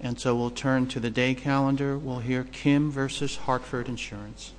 And so we'll turn to the day calendar. We'll hear Kim v. Hartford Insurance.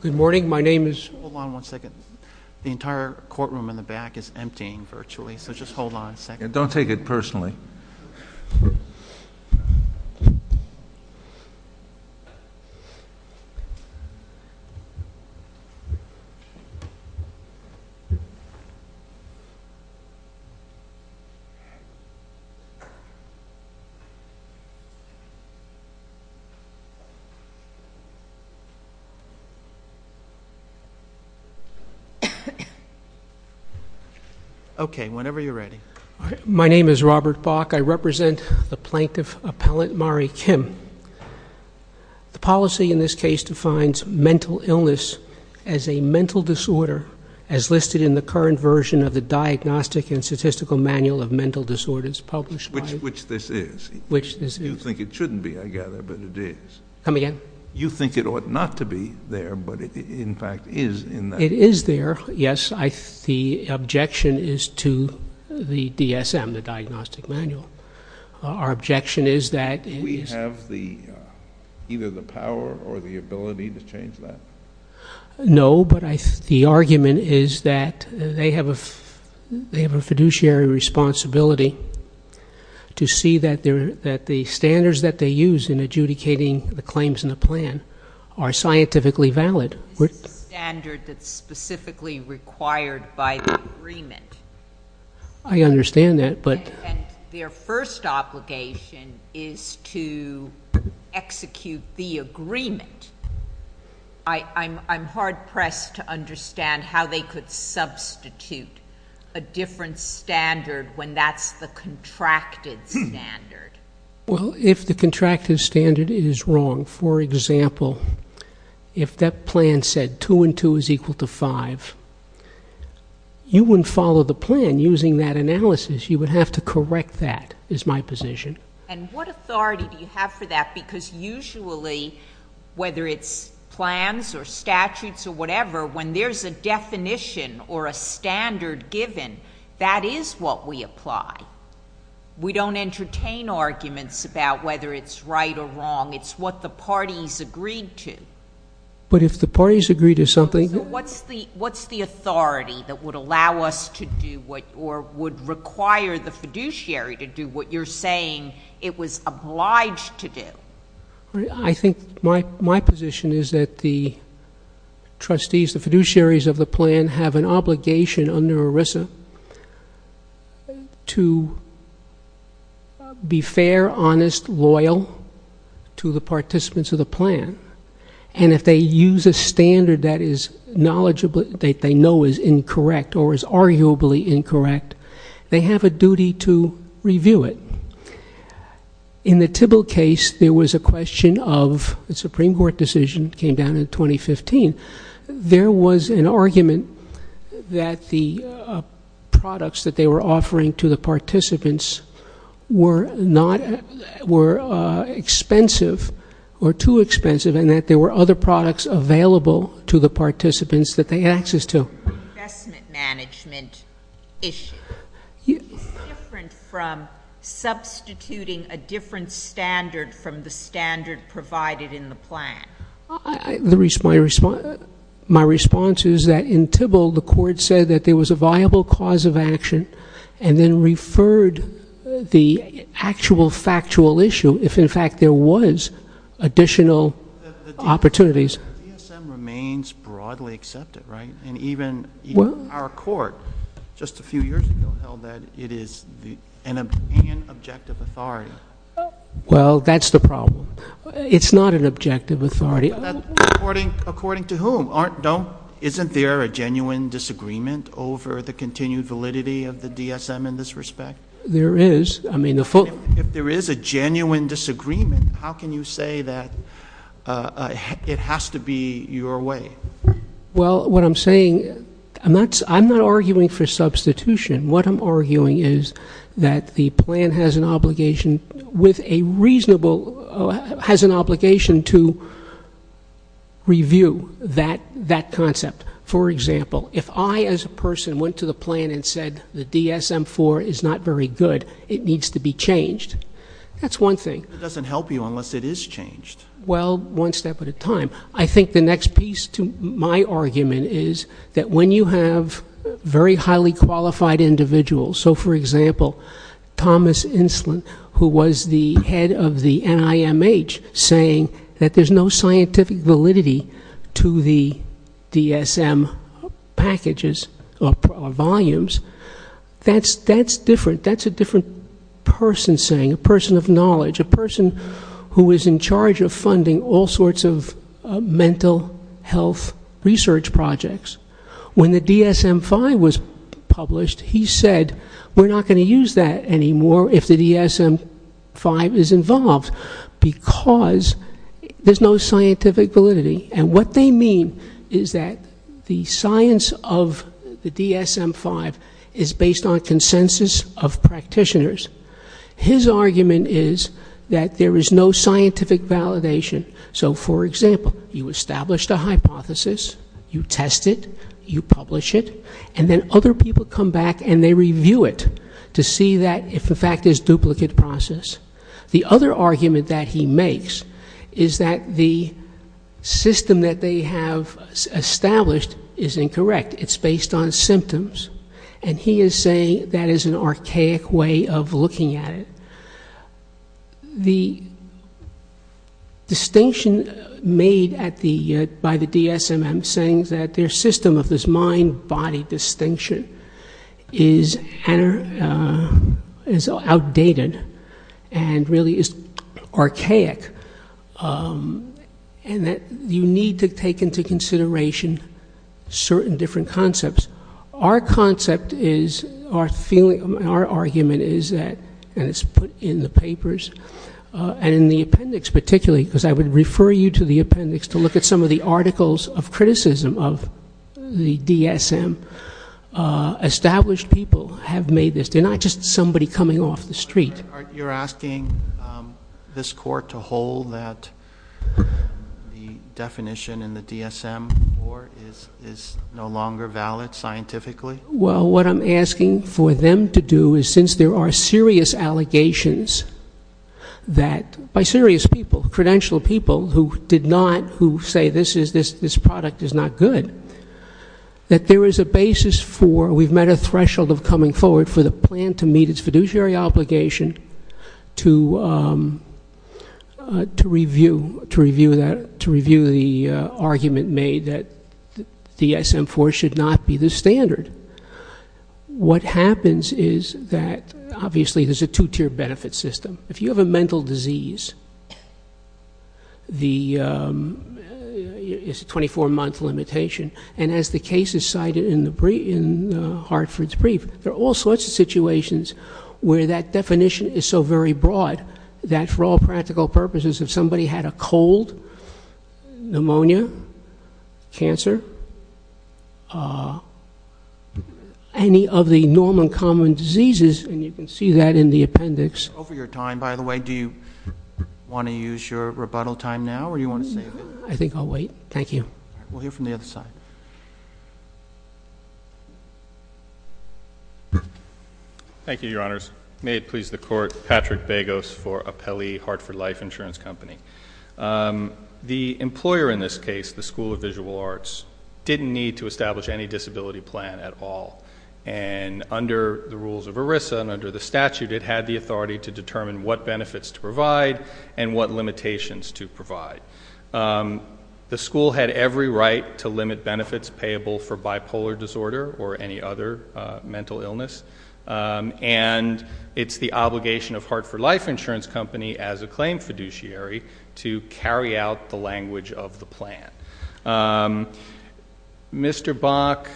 Good morning. My name is Hold on one second. The entire courtroom in the back is emptying virtually, so just hold on a second. Don't take it personally. Okay. Whenever you're ready. My name is Robert Bach. I represent the Plaintiff Appellant Mari Kim. The policy in this case defines mental illness as a mental disorder as listed in the current version of the Diagnostic and Statistical Manual of Mental Disorders published by Which this is. Which this is. You think it shouldn't be, I gather, but it is. Come again? You think it ought not to be there, but it in fact is. It is there, yes. The objection is to the DSM, the Diagnostic Manual. Our objection is that We have either the power or the ability to change that? No, but the argument is that they have a fiduciary responsibility to see that the standards that they use in adjudicating the claims in the plan are scientifically valid. This is a standard that's specifically required by the agreement. I understand that, but And their first obligation is to execute the agreement. I'm hard-pressed to understand how they could substitute a different standard when that's the contracted standard. Well, if the contracted standard is wrong, for example, if that plan said two and two is equal to five, you wouldn't follow the plan using that analysis. You would have to correct that, is my position. And what authority do you have for that? Because usually, whether it's plans or statutes or whatever, when there's a definition or a standard given, that is what we apply. We don't entertain arguments about whether it's right or wrong. It's what the parties agreed to. But if the parties agreed to something So what's the authority that would allow us to do what or would require the fiduciary to do what you're saying it was obliged to do? I think my position is that the trustees, the fiduciaries of the plan, have an obligation under ERISA to be fair, honest, loyal to the participants of the plan. And if they use a standard that is knowledgeable, that they know is incorrect or is arguably incorrect, they have a duty to review it. In the Tibble case, there was a question of the Supreme Court decision came down in 2015. There was an argument that the products that they were offering to the participants were expensive or too expensive and that there were other products available to the participants that they had access to. Investment management issue. It's different from substituting a different standard from the standard provided in the plan. My response is that in Tibble, the court said that there was a viable cause of action and then referred the actual factual issue if in fact there was additional opportunities. DSM remains broadly accepted, right? And even our court, just a few years ago, held that it is an objective authority. Well, that's the problem. It's not an objective authority. According to whom? Isn't there a genuine disagreement over the continued validity of the DSM in this respect? There is. If there is a genuine disagreement, how can you say that it has to be your way? Well, what I'm saying, I'm not arguing for substitution. What I'm arguing is that the plan has an obligation to review that concept. For example, if I as a person went to the plan and said the DSM-4 is not very good, it needs to be changed. That's one thing. It doesn't help you unless it is changed. Well, one step at a time. I think the next piece to my argument is that when you have very highly qualified individuals, so for example, Thomas Inslin, who was the NIMH saying that there's no scientific validity to the DSM packages or volumes, that's different. That's a different person saying, a person of knowledge, a person who is in charge of funding all sorts of mental health research projects. When the DSM-5 was published, he said, we're not going to use that anymore if the DSM-5 is involved because there's no scientific validity. And what they mean is that the science of the DSM-5 is based on consensus of practitioners. His argument is that there is no scientific validation. So for example, you established a hypothesis, you test it, you publish it, and then other people come back and they review it to see if the fact is duplicate process. The other argument that he makes is that the system that they have established is incorrect. It's based on symptoms. And he is saying that is an archaic way of looking at it. The distinction made by the DSM saying that their system of this mind-body distinction is outdated and really is archaic. And that you need to take into consideration certain different concepts. Our concept is, our feeling, our argument is that, and it's put in the papers, and in the appendix particularly, because I would refer you to the appendix to look at some of the articles of criticism of the DSM. Established people have made this. They're not just somebody coming off the street. You're asking this court to hold that the definition in the DSM is no longer valid scientifically? Well, what I'm asking for them to do is since there are serious allegations that, by serious people, credentialed people who did not, who say this product is not good, that there is a basis for, we've met a threshold of coming forward for the plan to meet its fiduciary obligation to review the argument made that the DSM-IV should not be the standard. And what happens is that, obviously, there's a two-tier benefit system. If you have a mental disease, the, it's a 24-month limitation. And as the case is cited in Hartford's brief, there are all sorts of situations where that definition is so very broad that, for all practical purposes, if somebody had a cold, pneumonia, cancer, that's a 24-month limitation. Any of the normal common diseases, and you can see that in the appendix. Over your time, by the way, do you want to use your rebuttal time now, or do you want to save it? I think I'll wait. Thank you. All right. We'll hear from the other side. Thank you, Your Honors. May it please the Court, Patrick Bagos for Apelli Hartford Life Insurance Company. The employer in this case, the School of Visual Arts, didn't need to call. And under the rules of ERISA and under the statute, it had the authority to determine what benefits to provide and what limitations to provide. The school had every right to limit benefits payable for bipolar disorder or any other mental illness. And it's the obligation of Hartford Life Insurance Company, as a claim fiduciary, to carry out the language of the plan. Mr. Bach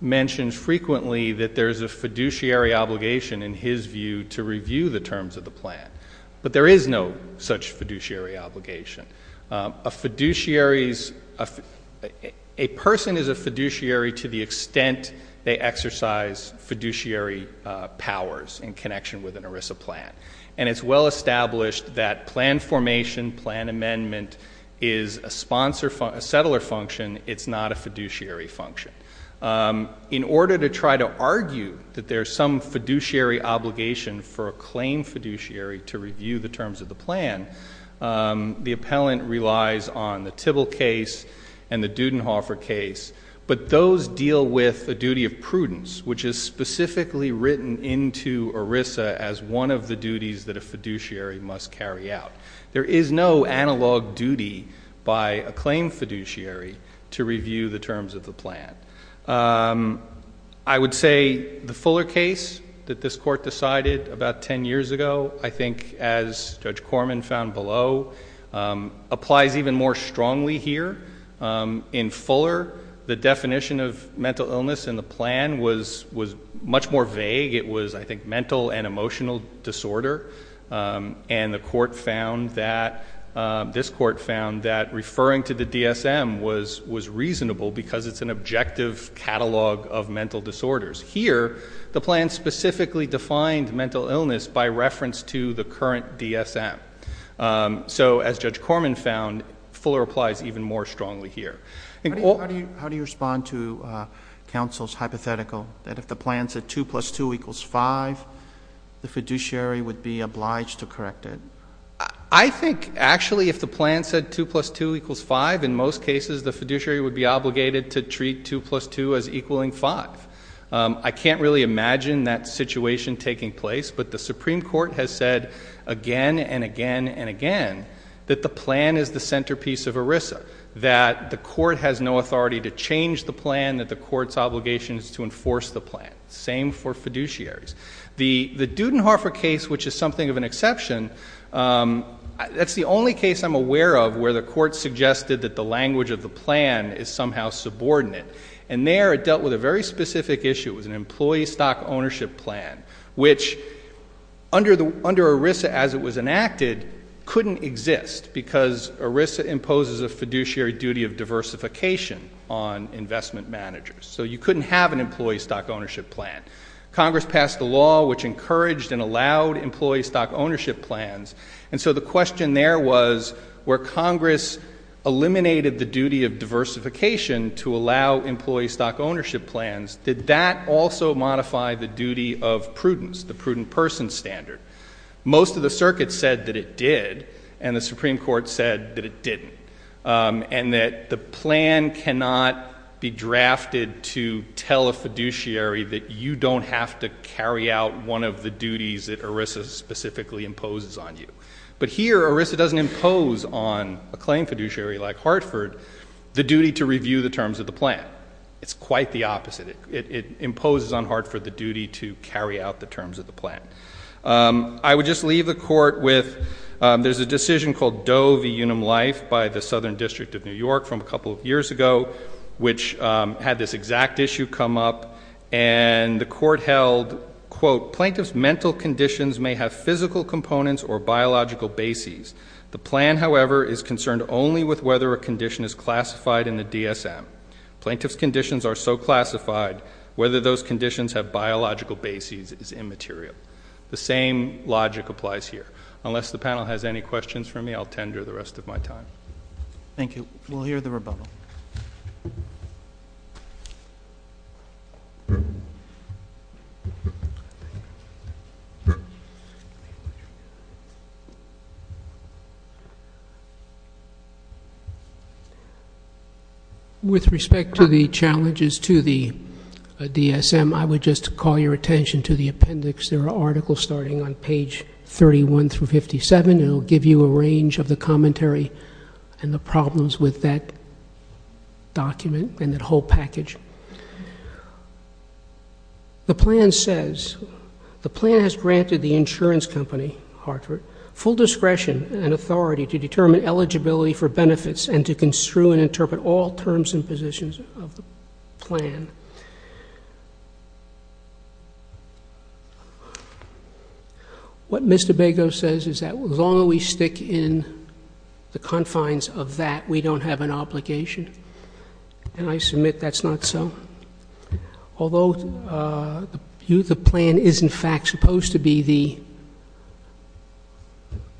mentions frequently that there's a fiduciary obligation, in his view, to review the terms of the plan. But there is no such fiduciary obligation. A person is a fiduciary to the extent they exercise fiduciary powers in connection with an ERISA plan. And it's well established that plan formation, plan amendment, is a sponsor, a settler function. It's not a fiduciary function. In order to try to argue that there's some fiduciary obligation for a claim fiduciary to review the terms of the plan, the appellant relies on the Tibble case and the Dudenhofer case. But those deal with a duty of prudence, which is specifically written into ERISA as one of the duties that a fiduciary must carry out. There is no analog duty by a claim fiduciary to review the terms of the plan. I would say the Fuller case that this Court decided about 10 years ago, I think, as Judge Corman found below, applies even more strongly here. In Fuller, the definition of mental illness was more vague. It was, I think, mental and emotional disorder. And the Court found that, this Court found that referring to the DSM was reasonable because it's an objective catalog of mental disorders. Here, the plan specifically defined mental illness by reference to the current DSM. So as Judge Corman found, Fuller applies even more strongly here. How do you respond to counsel's hypothetical that if the plan said 2 plus 2 equals 5, the fiduciary would be obliged to correct it? I think, actually, if the plan said 2 plus 2 equals 5, in most cases, the fiduciary would be obligated to treat 2 plus 2 as equaling 5. I can't really imagine that situation taking place, but the Supreme Court has said again and again and again that the plan is the centerpiece of ERISA, that the Court has no authority to change the plan, that the Court's obligation is to enforce the plan. Same for fiduciaries. The Dudenhofer case, which is something of an exception, that's the only case I'm aware of where the Court suggested that the language of the plan is somehow subordinate. And there, it dealt with a very specific issue. It was an employee stock ownership plan, which, under ERISA as it was enacted, couldn't exist because ERISA imposes a fiduciary duty of diversification on investment managers. So you couldn't have an employee stock ownership plan. Congress passed a law which encouraged and allowed employee stock ownership plans, and so the question there was, where Congress eliminated the duty of diversification to allow employee stock ownership plans, did that also modify the duty of prudence, the prudent person standard? Most of the circuit said that it did, and the Supreme Court said that it didn't, and that the plan cannot be drafted to tell a fiduciary that you don't have to carry out one of the duties that ERISA specifically imposes on you. But here, ERISA doesn't impose on a claim fiduciary like Hartford the duty to review the terms of the plan. It's quite the opposite. It imposes on Hartford the duty to carry out the terms of the plan. I would just leave the Court with, there's a decision called Doe v. Unum Life by the Southern District of New York from a couple of years ago, which had this exact issue come up, and the Court held, quote, plaintiff's mental conditions may have physical components or biological bases. The plan, however, is concerned only with whether a condition is classified, whether those conditions have biological bases is immaterial. The same logic applies here. Unless the panel has any questions for me, I'll tender the rest of my time. Thank you. We'll hear the rebuttal. With respect to the challenges to the DSM, I would just call your attention to the appendix. There are articles starting on page 31 through 57. It will give you a range of the commentary and the problems with that document and that whole package. The plan says, the plan has granted the insurance company, Hartford, full discretion and authority to determine eligibility for benefits and to construe and interpret all terms and positions of the plan. What Mr. Bago says is that as long as we stick in the confines of that, we don't have an obligation. And I submit that's not so. Although the plan is, in fact, supposed to be the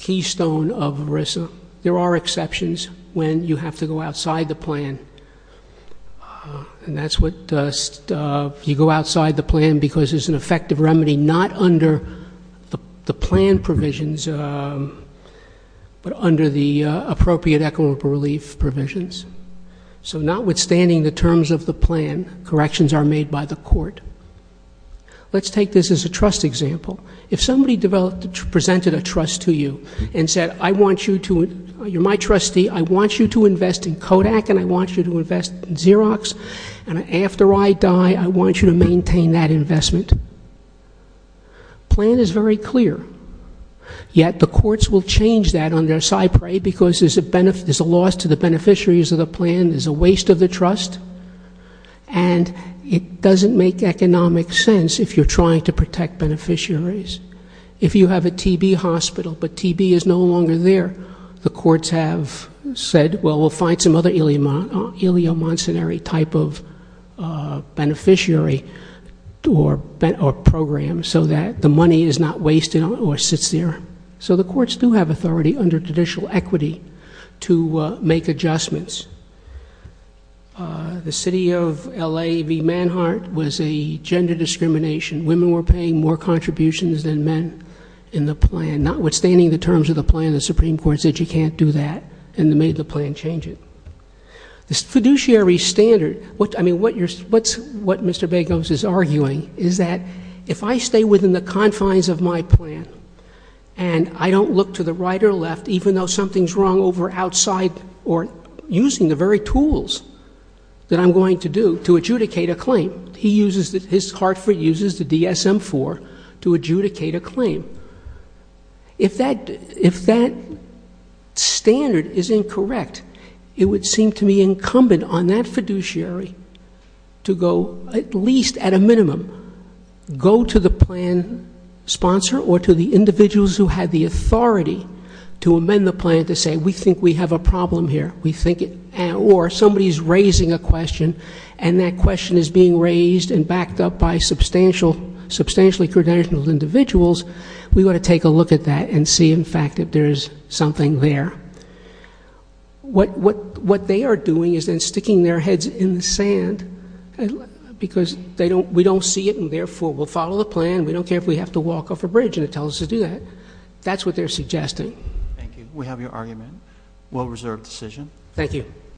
keystone of ERISA, there are exceptions when you have to go outside the plan. And that's what you go outside the plan because it's an effective remedy not under the plan provisions, but under the appropriate equitable relief provisions. So notwithstanding the terms of the plan, corrections are made by the court. Let's take this as a trust example. If somebody presented a trust to you and said, I want you to, you're my trustee, I want you to invest in Kodak and I want you to invest in Xerox and after I die, I want you to maintain that investment. The plan is very clear. Yet the courts will change that on their side, pray, because there's a loss to the beneficiaries of the plan, there's a waste of the trust, and it doesn't make economic sense if you're trying to protect beneficiaries. If you have a TB hospital, but TB is no longer there, the courts have said, well, we'll find some other ileomancenary type of beneficiary or program so that the money is not wasted or sits there. So the courts do have authority under judicial equity to make adjustments. The city of LA v. Manhart was a gender discrimination. Women were paying more contributions than men. The Supreme Court said you can't do that and made the plan change it. The fiduciary standard, what Mr. Bagos is arguing is that if I stay within the confines of my plan and I don't look to the right or left, even though something's wrong over outside or using the very tools that I'm going to do to adjudicate a claim, he uses, his Hartford uses the DSM-IV to adjudicate a claim. If that standard is incorrect, it would seem to me incumbent on that fiduciary to go, at least at a minimum, go to the plan sponsor or to the individuals who had the authority to amend the plan to say, we think we have a problem here. Or somebody's being raised and backed up by substantially credentialed individuals, we want to take a look at that and see, in fact, if there is something there. What they are doing is then sticking their heads in the sand because we don't see it and therefore we'll follow the plan. We don't care if we have to walk off a bridge and it tells us to do that. That's what they're suggesting. Thank you. We have your argument. Well-reserved decision. Thank you.